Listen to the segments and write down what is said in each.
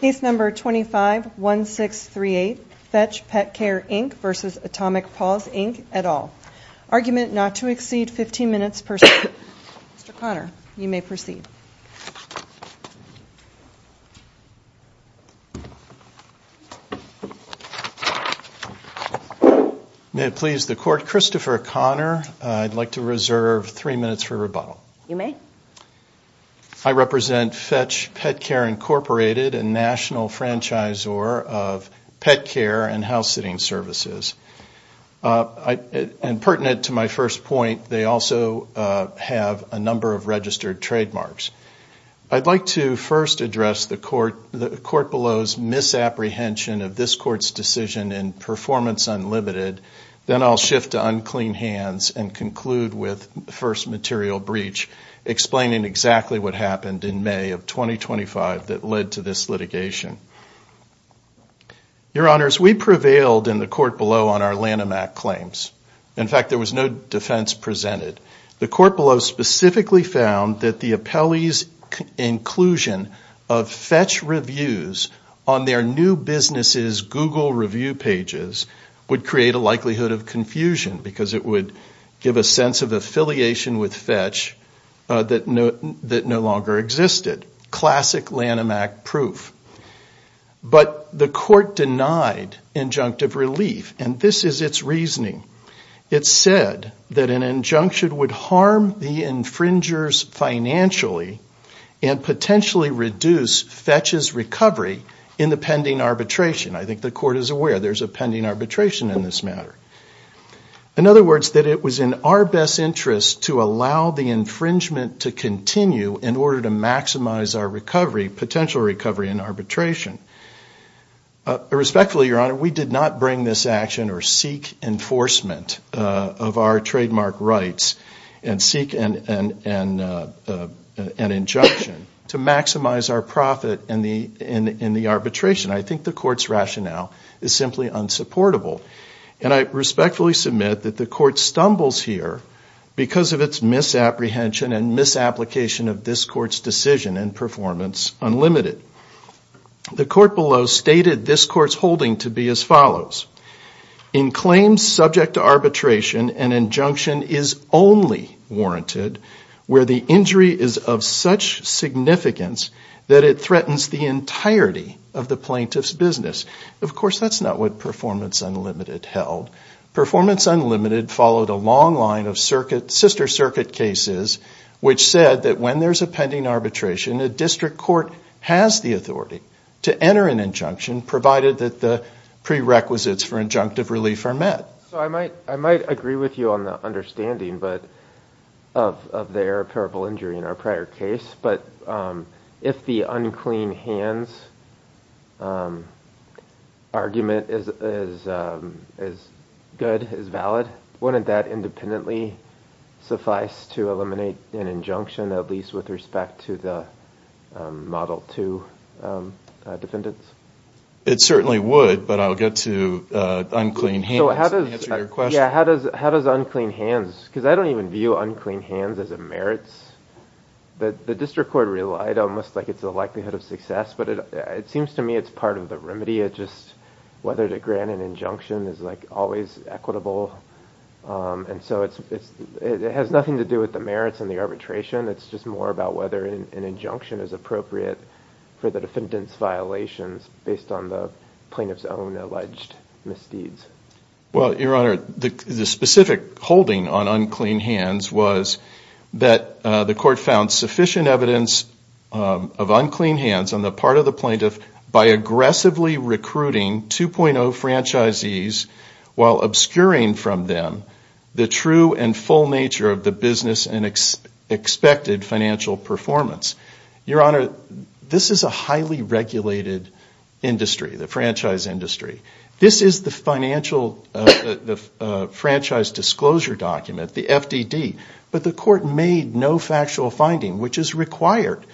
Case No. 251638 Fetch Pet Care Inc v. Atomic Pawz Inc et al. Argument not to exceed 15 minutes per second. Mr. Conner, you may proceed. May it please the Court, Christopher Conner, I'd like to reserve three minutes for rebuttal. You may. I represent Fetch Pet Care, Inc., a national franchisor of pet care and house-sitting services. And pertinent to my first point, they also have a number of registered trademarks. I'd like to first address the Court below's misapprehension of this Court's decision in performance unlimited. Then I'll shift to unclean hands and conclude with first material breach, explaining exactly what happened in May of 2025 that led to this litigation. Your Honors, we prevailed in the Court below on our Lanham Act claims. In fact, there was no defense presented. The Court below specifically found that the appellee's inclusion of Fetch reviews on their new business's Google review pages would create a likelihood of confusion because it would give a sense of affiliation with Fetch that no longer existed. Classic Lanham Act proof. But the Court denied injunctive relief, and this is its reasoning. It said that an injunction would harm the infringers financially and potentially reduce Fetch's recovery in the pending arbitration. I think the Court is aware there's a pending arbitration in this matter. In other words, that it was in our best interest to allow the infringement to continue in order to maximize our recovery, potential recovery in arbitration. Respectfully, Your Honor, we did not bring this action or seek enforcement of our trademark rights and seek an injunction to maximize our profit in the arbitration. I think the Court's rationale is simply unsupportable. And I respectfully submit that the Court stumbles here because of its misapprehension and misapplication of this Court's decision in performance unlimited. The Court below stated this Court's holding to be as follows. In claims subject to arbitration, an injunction is only warranted where the injury is of such significance that it threatens the entirety of the plaintiff's business. Of course, that's not what performance unlimited held. Performance unlimited followed a long line of sister circuit cases which said that when there's a pending arbitration, a district court has the authority to enter an injunction provided that the prerequisites for injunctive relief are met. I might agree with you on the understanding of the irreparable injury in our prior case, but if the unclean hands argument is good, is valid, wouldn't that independently suffice to eliminate an injunction, at least with respect to the Model 2 defendants? It certainly would, but I'll get to unclean hands. How does unclean hands, because I don't even view unclean hands as a merits. The district court relied almost like it's a likelihood of success, but it seems to me it's part of the remedy. It's just whether to grant an injunction is like always equitable. And so it has nothing to do with the merits and the arbitration. It's just more about whether an injunction is appropriate for the defendant's violations based on the plaintiff's own alleged misdeeds. Well, Your Honor, the specific holding on unclean hands was that the court found sufficient evidence of unclean hands on the part of the plaintiff by aggressively recruiting 2.0 franchisees while obscuring from them the true and full nature of the business and expected financial performance. Your Honor, this is a highly regulated industry, the franchise industry. This is the financial franchise disclosure document, the FDD. But the court made no factual finding, which is required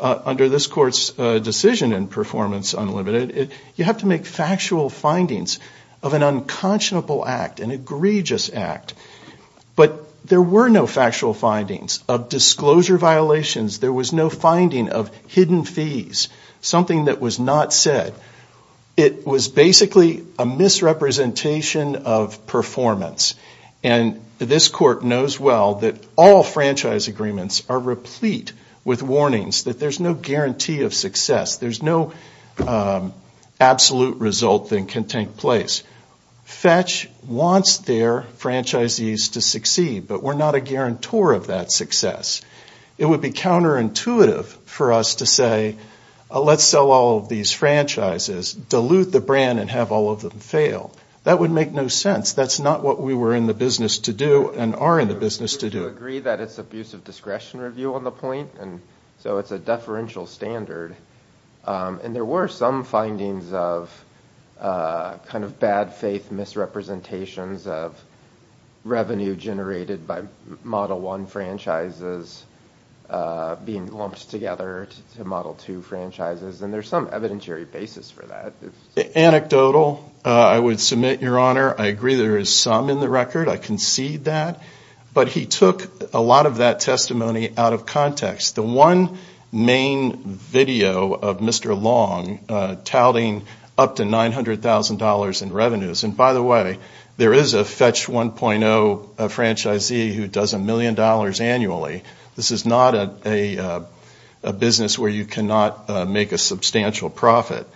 under this court's decision in performance unlimited. You have to make factual findings of an unconscionable act, an egregious act. But there were no factual findings of disclosure violations. There was no finding of hidden fees, something that was not said. It was basically a misrepresentation of performance. And this court knows well that all franchise agreements are replete with warnings that there's no guarantee of success. There's no absolute result that can take place. FETCH wants their franchisees to succeed, but we're not a guarantor of that success. It would be counterintuitive for us to say, let's sell all of these franchises, dilute the brand and have all of them fail. That would make no sense. That's not what we were in the business to do and are in the business to do. I agree that it's abuse of discretion review on the point, and so it's a deferential standard. And there were some findings of kind of bad faith misrepresentations of revenue generated by Model 1 franchises. Being lumped together to Model 2 franchises, and there's some evidentiary basis for that. Anecdotal, I would submit, Your Honor. I agree there is some in the record. I concede that. But he took a lot of that testimony out of context. The one main video of Mr. Long touting up to $900,000 in revenues. And by the way, there is a FETCH 1.0 franchisee who does $1 million annually. This is not a business where you cannot make a substantial profit.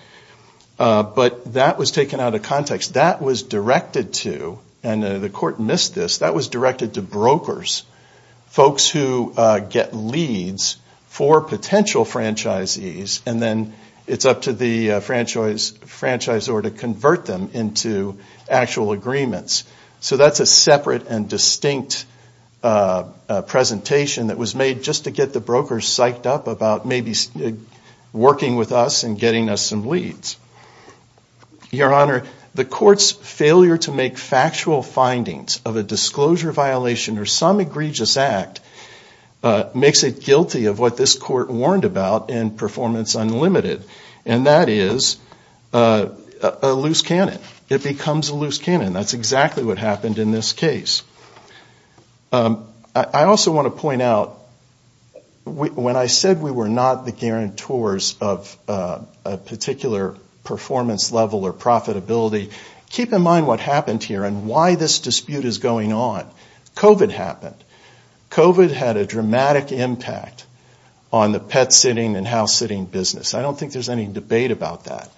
But that was taken out of context. That was directed to, and the court missed this, that was directed to brokers. Folks who get leads for potential franchisees, and then it's up to the franchisor to convert them into a broker. So that's a separate and distinct presentation that was made just to get the brokers psyched up about maybe working with us and getting us some leads. Your Honor, the court's failure to make factual findings of a disclosure violation or some egregious act makes it guilty of what this court warned about in Performance Unlimited. And that is a loose cannon. It becomes a loose cannon. That's exactly what happened in this case. I also want to point out, when I said we were not the guarantors of a particular performance level or profitability, keep in mind what happened here and why this dispute is going on. COVID happened. COVID had a dramatic impact on the pet sitting and house sitting business. I don't think there's any debate about that.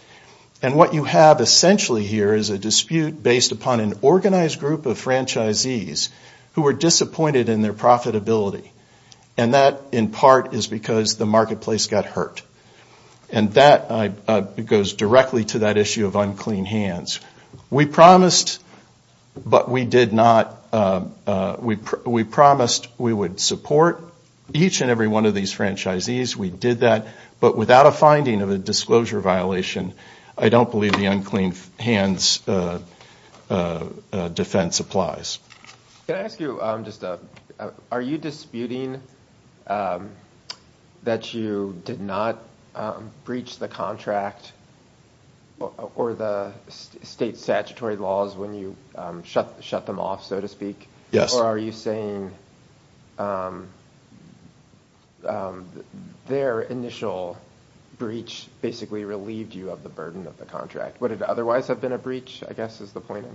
And what you have essentially here is a dispute based upon an organized group of franchisees who were disappointed in their profitability. And that, in part, is because the marketplace got hurt. And that goes directly to that issue of unclean hands. We promised, but we did not, we promised we would support each and every one of these franchisees. We did that. But without a finding of a disclosure violation, I don't believe the unclean hands defense applies. Can I ask you, are you disputing that you did not breach the contract or the state statutory laws when you shut them off, so to speak? Yes. Or are you saying their initial breach basically relieved you of the burden of the contract? Would it otherwise have been a breach, I guess, is the point?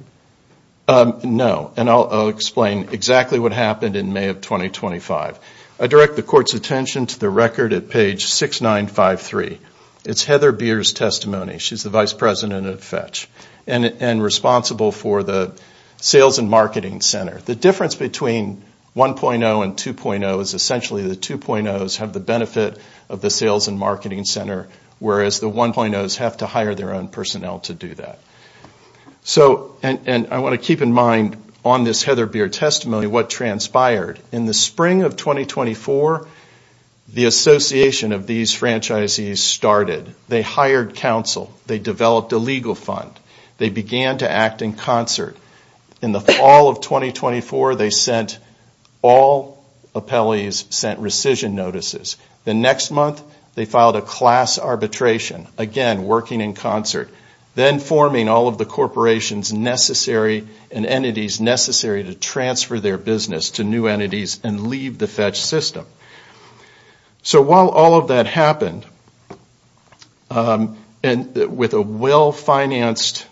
No. And I'll explain exactly what happened in May of 2025. I direct the court's attention to the record at page 6953. It's Heather Beer's testimony. She's the vice president of Fetch and responsible for the sales and marketing center. The difference between the two is that Heather Beer's testimony is that the difference between 1.0 and 2.0 is essentially the 2.0s have the benefit of the sales and marketing center, whereas the 1.0s have to hire their own personnel to do that. And I want to keep in mind on this Heather Beer testimony what transpired. In the spring of 2024, the association of these franchisees started. They hired counsel. They developed a legal fund. They began to act in concert. In the fall of 2024, they signed a class arbitration. Again, working in concert. Then forming all of the corporations necessary and entities necessary to transfer their business to new entities and leave the Fetch system. So while all of that happened, and with a well-financed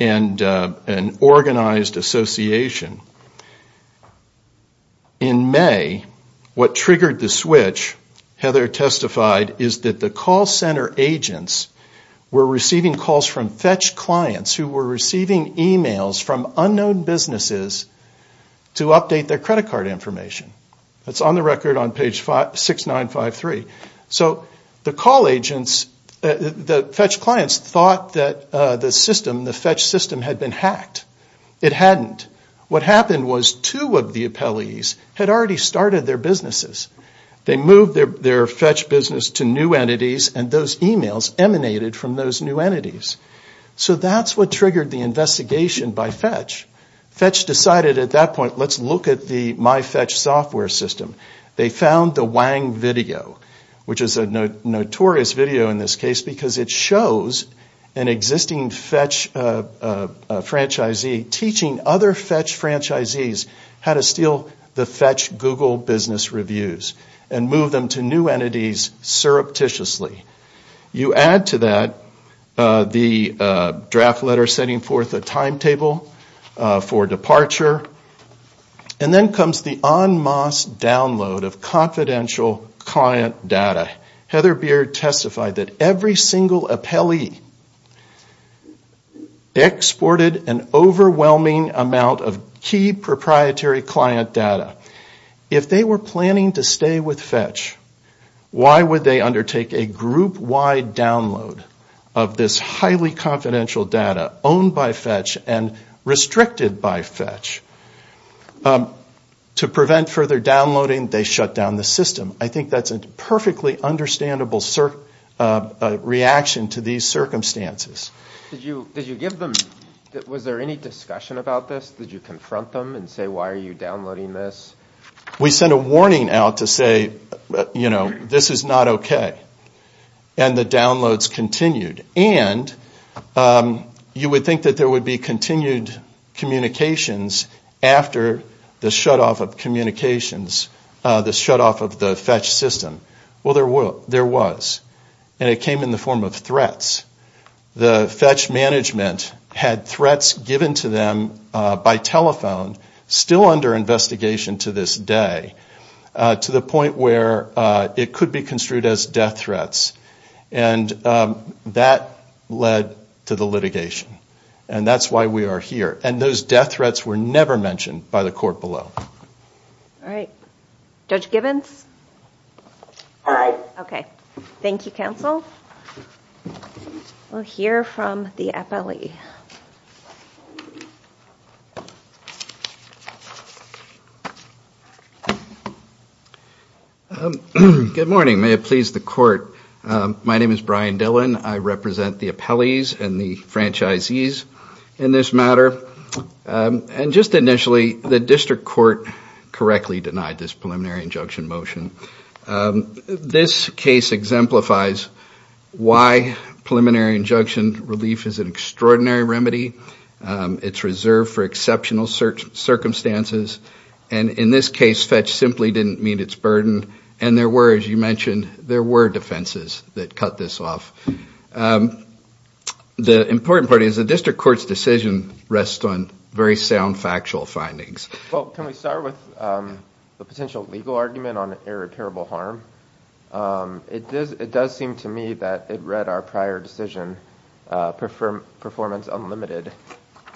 and organized association, the association was able to do that. In May, what triggered the switch, Heather testified, is that the call center agents were receiving calls from Fetch clients who were receiving emails from unknown businesses to update their credit card information. That's on the record on page 6953. So the Fetch clients thought that the call center agents were receiving emails from unknown businesses to update their credit card information. So what happened was two of the appellees had already started their businesses. They moved their Fetch business to new entities, and those emails emanated from those new entities. So that's what triggered the investigation by Fetch. Fetch decided at that point, let's look at the MyFetch software system. They found the MyFetch software system that shows an existing Fetch franchisee teaching other Fetch franchisees how to steal the Fetch Google business reviews and move them to new entities surreptitiously. You add to that the draft letter setting forth a timetable for departure, and then comes the en masse download of confidential client data. Heather Beard testified that every single appellee who had access to the MyFetch software system exported an overwhelming amount of key proprietary client data. If they were planning to stay with Fetch, why would they undertake a group-wide download of this highly confidential data owned by Fetch and restricted by Fetch? To prevent further downloading, they shut down the system. I think that's a perfectly understandable reaction to these circumstances. Did you give them, was there any discussion about this? Did you confront them and say, why are you downloading this? We sent a warning out to say, you know, this is not okay. And the downloads continued. And you would think that there would be continued communications after the shutoff of communications, the shutoff of the Fetch system, and the shutdown of the MyFetch software system. Well, there was. And it came in the form of threats. The Fetch management had threats given to them by telephone, still under investigation to this day, to the point where it could be construed as death threats. And that led to the litigation. And that's why we are here. And those death threats were never mentioned by the court below. All right. Judge Gibbons? Aye. Okay. Thank you, counsel. We'll hear from the appellee. Good morning. May it please the court. My name is Brian Dillon. I represent the appellees and the franchisees in this matter. And just to clarify, the district court correctly denied this preliminary injunction motion. This case exemplifies why preliminary injunction relief is an extraordinary remedy. It's reserved for exceptional circumstances. And in this case, Fetch simply didn't meet its burden. And there were, as you mentioned, there were defenses that cut this off. The important part is the district court's decision rests on very sound factual findings. Well, can we start with the potential legal argument on irreparable harm? It does seem to me that it read our prior decision, performance unlimited,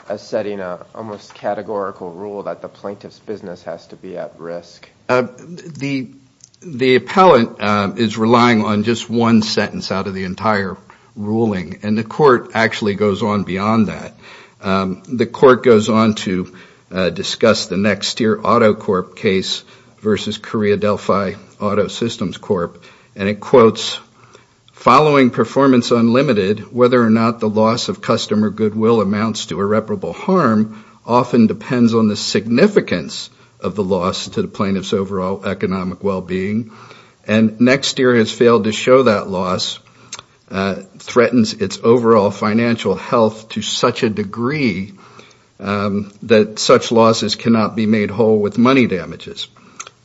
as setting an almost categorical rule that the plaintiff's business has to be at risk. The appellate is relying on just one sentence out of the entire ruling. And the court actually goes on beyond that. The court goes on to discuss the next year Auto Corp case versus Korea Delphi Auto Systems Corp. And it quotes, following performance unlimited, whether or not the loss of customer goodwill amounts to irreparable harm often depends on the significance of the loss to the plaintiff's overall economic well-being. And next year has failed to show that loss, threatens its overall financial health to such a degree that it cannot be made whole with money damages.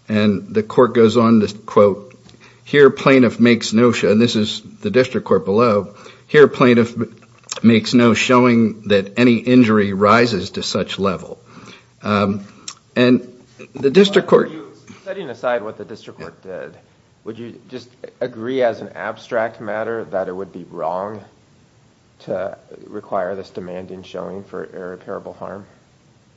And the court goes on to quote, here plaintiff makes no, and this is the district court below, here plaintiff makes no showing that any injury rises to such level. And the district court... Setting aside what the district court did, would you just agree as an abstract matter that it would be wrong to require this demand in showing for irreparable harm?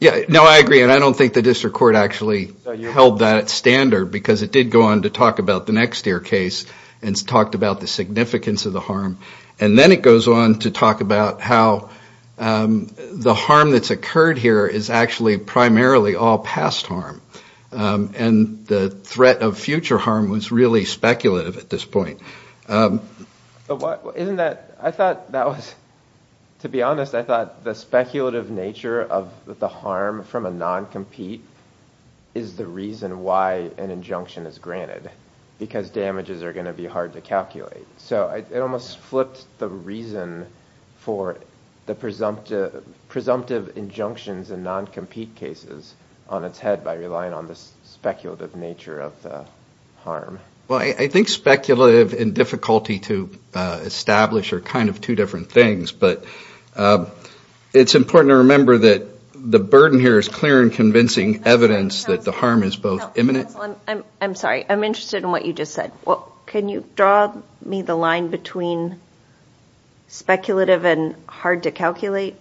Yeah, no, I agree. And I don't think the district court actually held that standard, because it did go on to talk about the next year case and talked about the significance of the harm. And then it goes on to talk about how the harm that's occurred here is actually primarily all past harm. And the threat of future harm was really speculative at this point. Isn't that, I thought that was, to be honest, I thought the speculative nature of the harm from a non-compete is the reason why an injunction is granted, because damages are going to be hard to calculate. So it almost flipped the reason for the presumptive injunctions in non-compete cases on its head by relying on the speculative nature of the harm. Well, I think speculative and difficulty to establish are kind of two different things. But it's important to remember that the burden here is clear and convincing evidence that the harm is both imminent... I'm sorry, I'm interested in what you just said. Can you draw me the line between speculative and hard to calculate?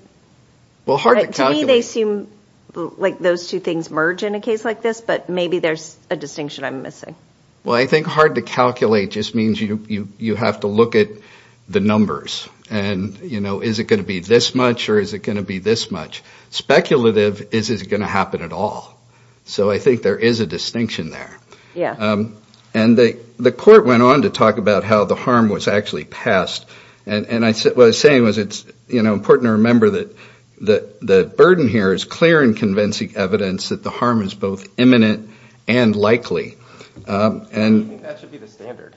To me, they seem like those two things merge in a case like this, but maybe there's a distinction I'm missing. I think hard to calculate just means you have to look at the numbers. And is it going to be this much or is it going to be this much? Speculative is, is it going to happen at all? So I think there is a distinction there. And the court went on to talk about how the harm was actually past. And what I was saying was it's important to remember that the burden here is clear and convincing evidence that the harm is both imminent and likely. I think that should be the standard.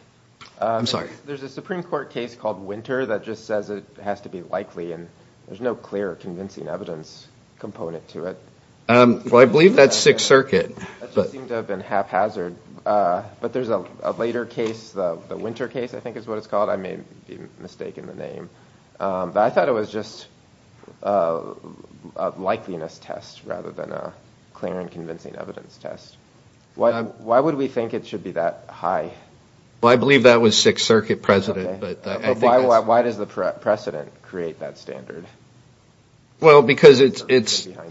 There's a Supreme Court case called Winter that just says it has to be likely. And there's no clear or convincing evidence component to it. Well, I believe that's Sixth Circuit. That just seemed to have been haphazard. But there's a later case, the Winter case, I think is what it's called. I may be mistaken the name. But I thought it was just a likeliness test rather than a clear and convincing evidence test. Why would we think it should be that high? Well, I believe that was Sixth Circuit precedent. Why does the precedent create that standard? Well, because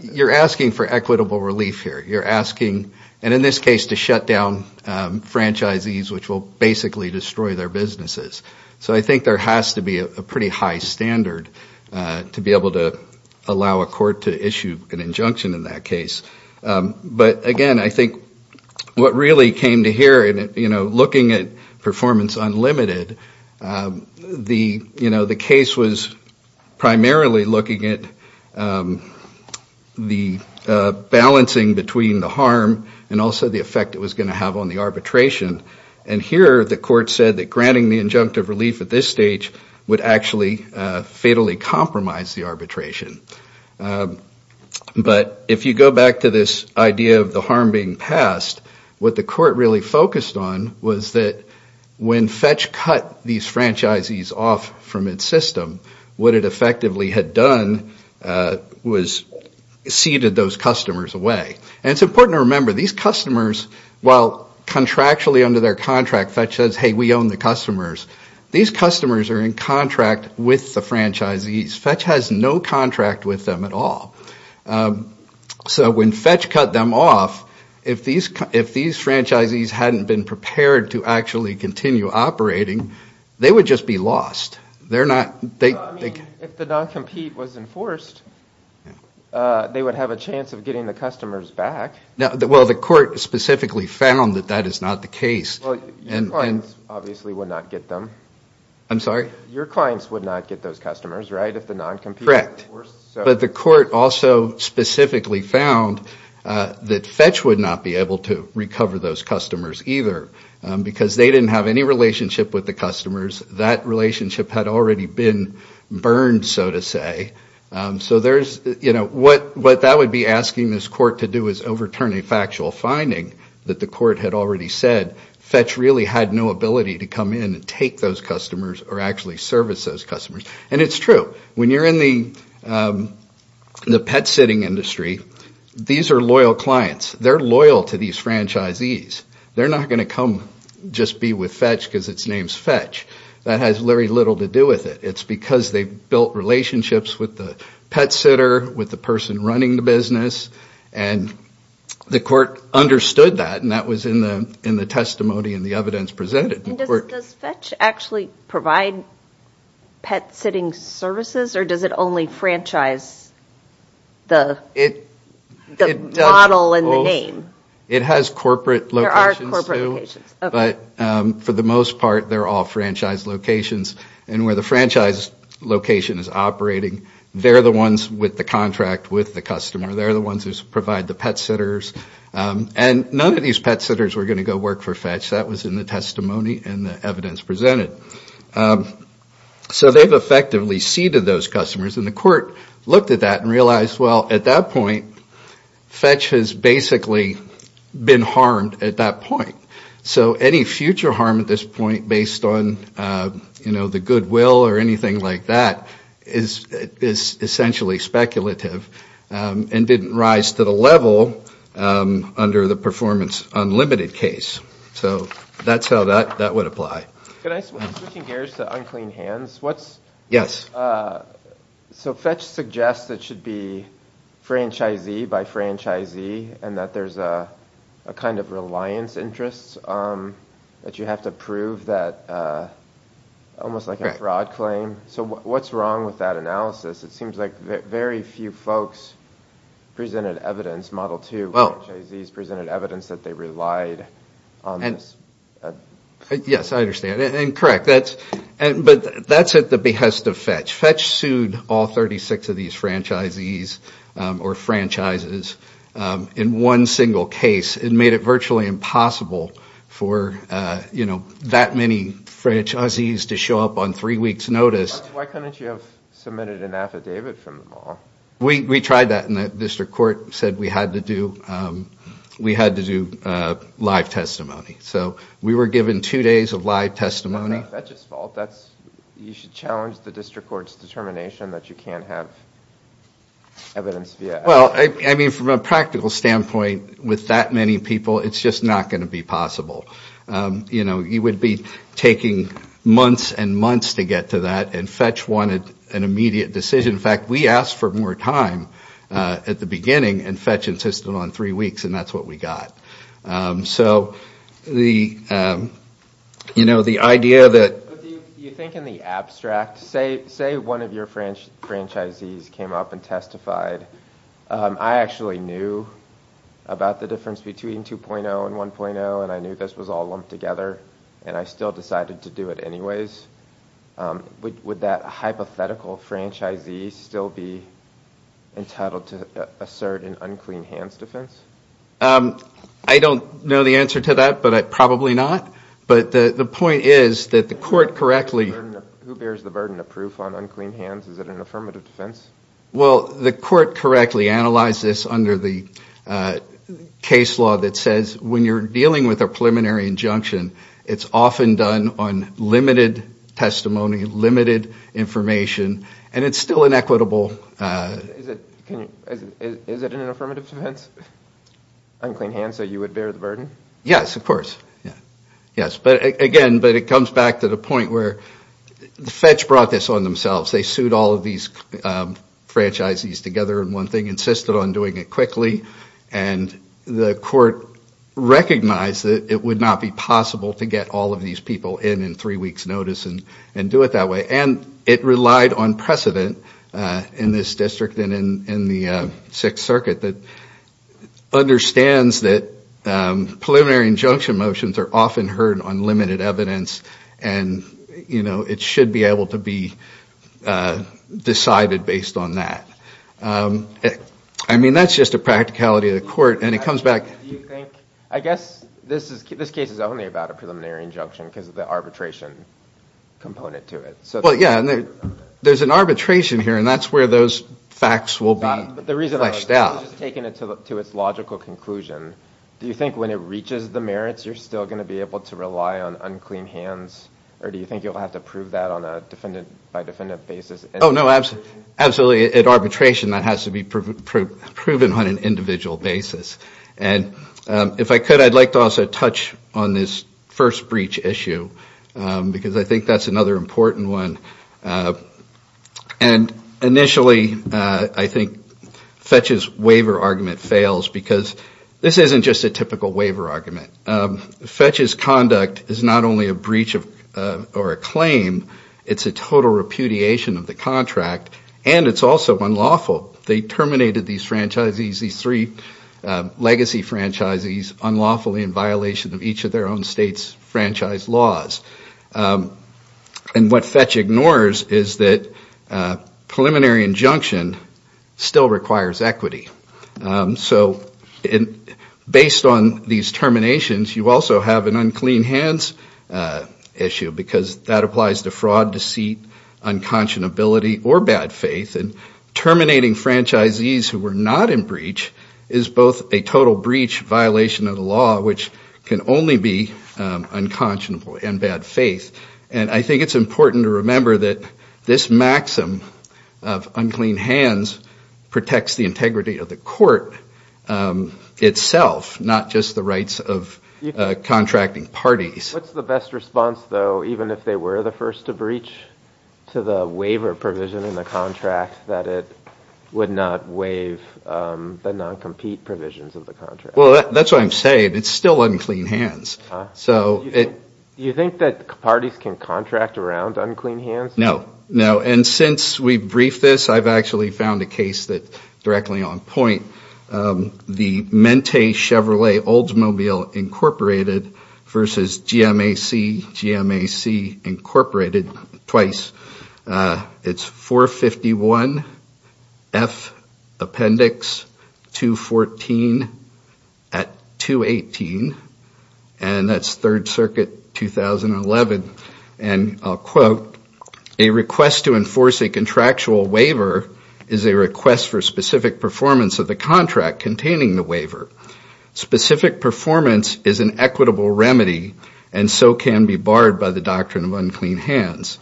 you're asking for equitable relief here. You're asking, and in this case, to shut down franchisees, which will basically destroy their businesses. So I think there has to be a pretty high standard to be able to allow a court to issue an injunction in that case. But again, I think what really came to hear, looking at performance unlimited, the case was primarily looking at the balancing between the harm and also the effect it was going to have on the arbitration. And here the court said that granting the injunctive relief at this stage would actually fatally compromise the arbitration. But if you go back to this idea of the harm being passed, what the court really focused on was that when Fetch cut these franchisees off from its system, what it effectively had done was ceded those customers away. And it's important to remember, these customers, while contractually under their contract, Fetch says, hey, we own the customers, these customers are in contract with the franchisees. Fetch has no contract with them at all. So when Fetch cut them off, if these franchisees hadn't been prepared to actually continue operating, they would just be lost. If the non-compete was enforced, they would have a chance of getting the customers back. Well, the court specifically found that that is not the case. Your clients obviously would not get those customers, right? Correct. But the court also specifically found that Fetch would not be able to recover those customers either because they didn't have any relationship with the customers. That relationship had already been burned, so to say. So what that would be asking this court to do is overturn a factual finding that the court had already said. Fetch really had no ability to come in and take those customers or actually service those customers. And it's true. When you're in the pet sitting industry, these are loyal clients. They're loyal to these franchisees. They're not going to come just be with Fetch because its name is Fetch. That has very little to do with it. It's because they've built relationships with the pet sitter, with the person running the business. And the court understood that, and that was in the testimony and the evidence presented. Does Fetch actually provide pet sitting services, or does it only franchise the model and the name? It has corporate locations, too. But for the most part, they're all franchise locations. And where the franchise location is operating, they're the ones with the contract with the customer. They're the ones who provide the pet sitters. And none of these pet sitters were going to go work for Fetch. That was in the testimony and the evidence presented. So they've effectively seeded those customers, and the court looked at that and realized, well, at that point, Fetch has basically been harmed at that point. So any future harm at this point based on the goodwill or anything like that is essentially speculative and didn't rise to the level under the performance unlimited case. So that's how that would apply. Can I switch gears to unclean hands? So Fetch suggests it should be franchisee by franchisee, and that there's a kind of reliance interest that you have to prove, almost like a fraud claim. So what's wrong with that analysis? It seems like very few folks presented evidence, at least Model 2 franchisees presented evidence that they relied on this. Yes, I understand. And correct. But that's at the behest of Fetch. Fetch sued all 36 of these franchisees or franchises in one single case. It made it virtually impossible for that many franchisees to show up on three weeks notice. Why couldn't you have submitted an affidavit from them all? We tried that, and the district court said we had to do live testimony. So we were given two days of live testimony. That's not Fetch's fault. You should challenge the district court's determination that you can't have evidence. Well, I mean, from a practical standpoint, with that many people, it's just not going to be possible. You would be taking months and months to get to that, and Fetch wanted an immediate decision. In fact, we asked for more time at the beginning, and Fetch insisted on three weeks, and that's what we got. You think in the abstract, say one of your franchisees came up and testified. I actually knew about the difference between 2.0 and 1.0, and I knew this was all lumped together, and I still decided to do it anyways. Would he still be entitled to assert an unclean hands defense? I don't know the answer to that, but probably not. Who bears the burden of proof on unclean hands? Is it an affirmative defense? Well, the court correctly analyzed this under the case law that says when you're dealing with a preliminary injunction, it's often done on limited testimony, limited information, and it's still inequitable. Is it an affirmative defense, unclean hands, so you would bear the burden? Yes, of course. But again, it comes back to the point where Fetch brought this on themselves. They sued all of these franchisees together on one thing, insisted on doing it quickly, and the court recognized that it would not be possible to get all of these people in in three weeks' notice and do it that way. And it relied on precedent in this district and in the Sixth Circuit that understands that preliminary injunction motions are often heard on limited evidence, and it should be able to be decided based on that. I mean, that's just a practicality of the court. Do you think, I guess this case is only about a preliminary injunction because of the arbitration component to it. There's an arbitration here, and that's where those facts will be fleshed out. I'm just taking it to its logical conclusion. Do you think when it reaches the merits, you're still going to be able to rely on unclean hands, or do you think you'll have to prove that on a defendant-by-defendant basis? Oh, no, absolutely. At arbitration, that has to be proven on an individual basis. And if I could, I'd like to also touch on this first breach issue because I think that's another important one. And initially, I think Fetch's waiver argument fails because this isn't just a typical waiver argument. Fetch's conduct is not only a breach or a claim, it's a total repudiation of the contract, and it's also unlawful. They terminated these three legacy franchisees unlawfully in violation of each of their own state's franchise laws. And what Fetch ignores is that preliminary injunction still requires equity. So based on these terminations, you also have an unclean hands issue because that applies to fraud, deceit, unconscionability, or bad faith. And terminating franchisees who were not in breach is both a total breach violation of the law, which can only be unconscionable and bad faith. And I think it's important to remember that this maxim of unclean hands protects the integrity of the court itself, not just the rights of contracting parties. What's the best response, though, even if they were the first to breach to the waiver provision in the contract that it would not waive the non-compete provisions of the contract? Well, that's what I'm saying. It's still unclean hands. Do you think that parties can contract around unclean hands? No. And since we briefed this, I've actually found a case that's directly on point. The Mente Chevrolet Oldsmobile Incorporated v. GMAC, GMAC Incorporated, twice. It's 451 F Appendix 214 at 218, and that's Third Circuit 2011, and I'll quote, a request to enforce a contractual waiver is a request for specific performance of the contract containing the waiver. Specific performance is an equitable remedy and so can be barred by the doctrine of unclean hands.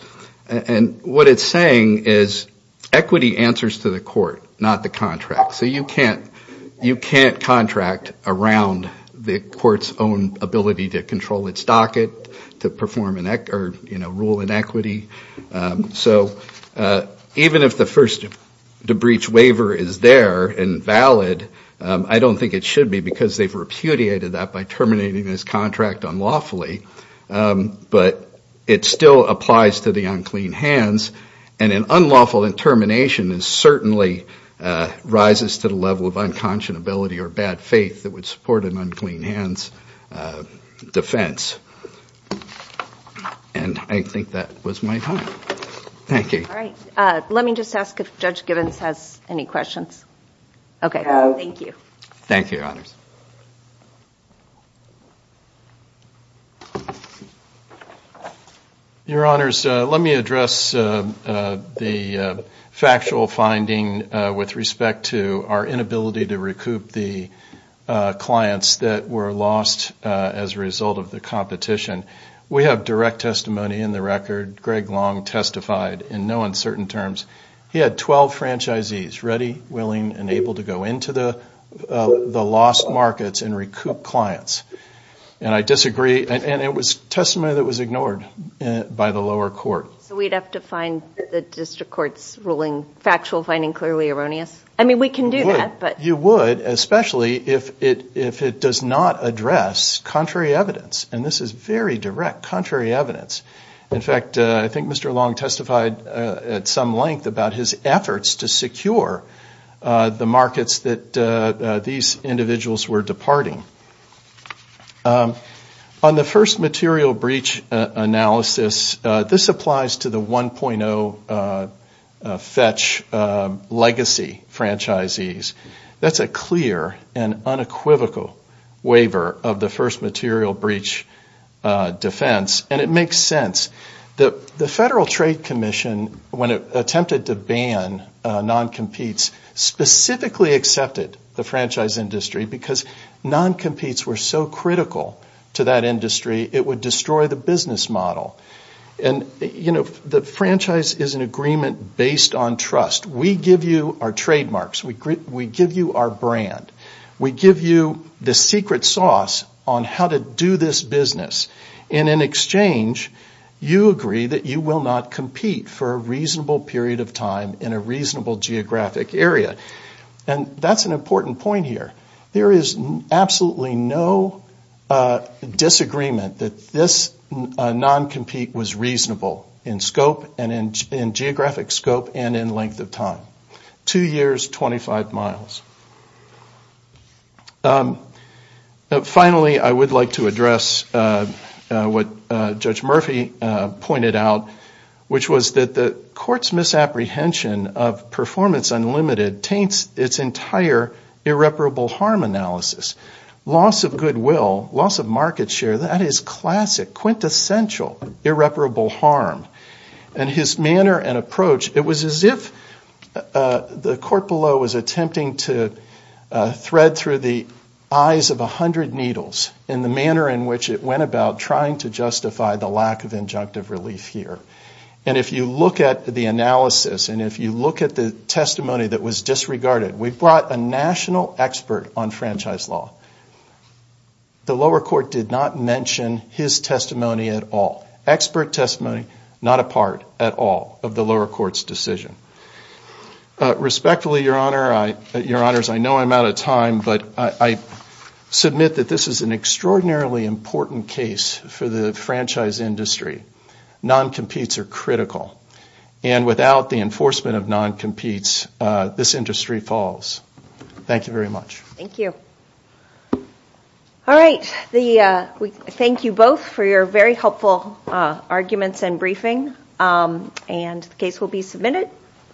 And what it's saying is equity answers to the court, not the contract. So you can't contract around the court's own ability to control its docket, to perform rule in equity. So even if the first to breach waiver is there and valid, I don't think it should be because they've repudiated that by terminating this contract unlawfully. But it still applies to the unclean hands, and an unlawful intermination is certainly rises to the level of unconscionability or bad faith that would support an unclean hands defense. And I think that was my time. Thank you. All right. Let me just ask if Judge Gibbons has any questions. Okay. Thank you. Thank you, Your Honors. Your Honors, let me address the factual finding with respect to our inability to recoup the clients that were lost as a result of the competition. We have direct testimony in the record. Greg Long testified in no uncertain terms. He had 12 franchisees ready, willing, and able to go into the lost markets and recoup clients. And I disagree, and it was testimony that was ignored by the lower court. So we'd have to find the district court's ruling factual finding clearly erroneous? I mean, we can do that. You would, especially if it does not address contrary evidence. And this is very direct contrary evidence. And I agree with Judge Gibbons when he talked about his efforts to secure the markets that these individuals were departing. On the first material breach analysis, this applies to the 1.0 fetch legacy franchisees. That's a clear and unequivocal waiver of the first material breach defense. And it makes sense that the Federal Trade Commission, when it attempted to ban non-competes, specifically accepted the franchise industry because non-competes were so critical to that industry, it would destroy the business model. And, you know, the franchise is an agreement based on trust. We give you our trademarks. We give you our brand. We give you the secret sauce on how to do this business. And in exchange, you agree that you will not compete for a reasonable period of time in a reasonable geographic area. And that's an important point here. There is absolutely no disagreement that this non-compete was reasonable in scope and in geographic scope and in length of time. Two years, 25 miles. Finally, I would like to address what Judge Murphy pointed out, which was that the court's misapprehension of performance unlimited taints its entire irreparable harm analysis. Loss of goodwill, loss of market share, that is classic, quintessential irreparable harm. And his manner and approach, it was as if the court below was attempting to thread through the eyes of a hundred needles in the manner in which it went about trying to justify the lack of injunctive relief here. And if you look at the analysis and if you look at the testimony that was disregarded, we brought a national expert on franchise law. The lower court did not mention his testimony at all. Not a part at all of the lower court's decision. Respectfully, Your Honor, I know I'm out of time, but I submit that this is an extraordinarily important case for the franchise industry. Non-competes are critical. And without the enforcement of non-competes, this industry falls. Thank you very much.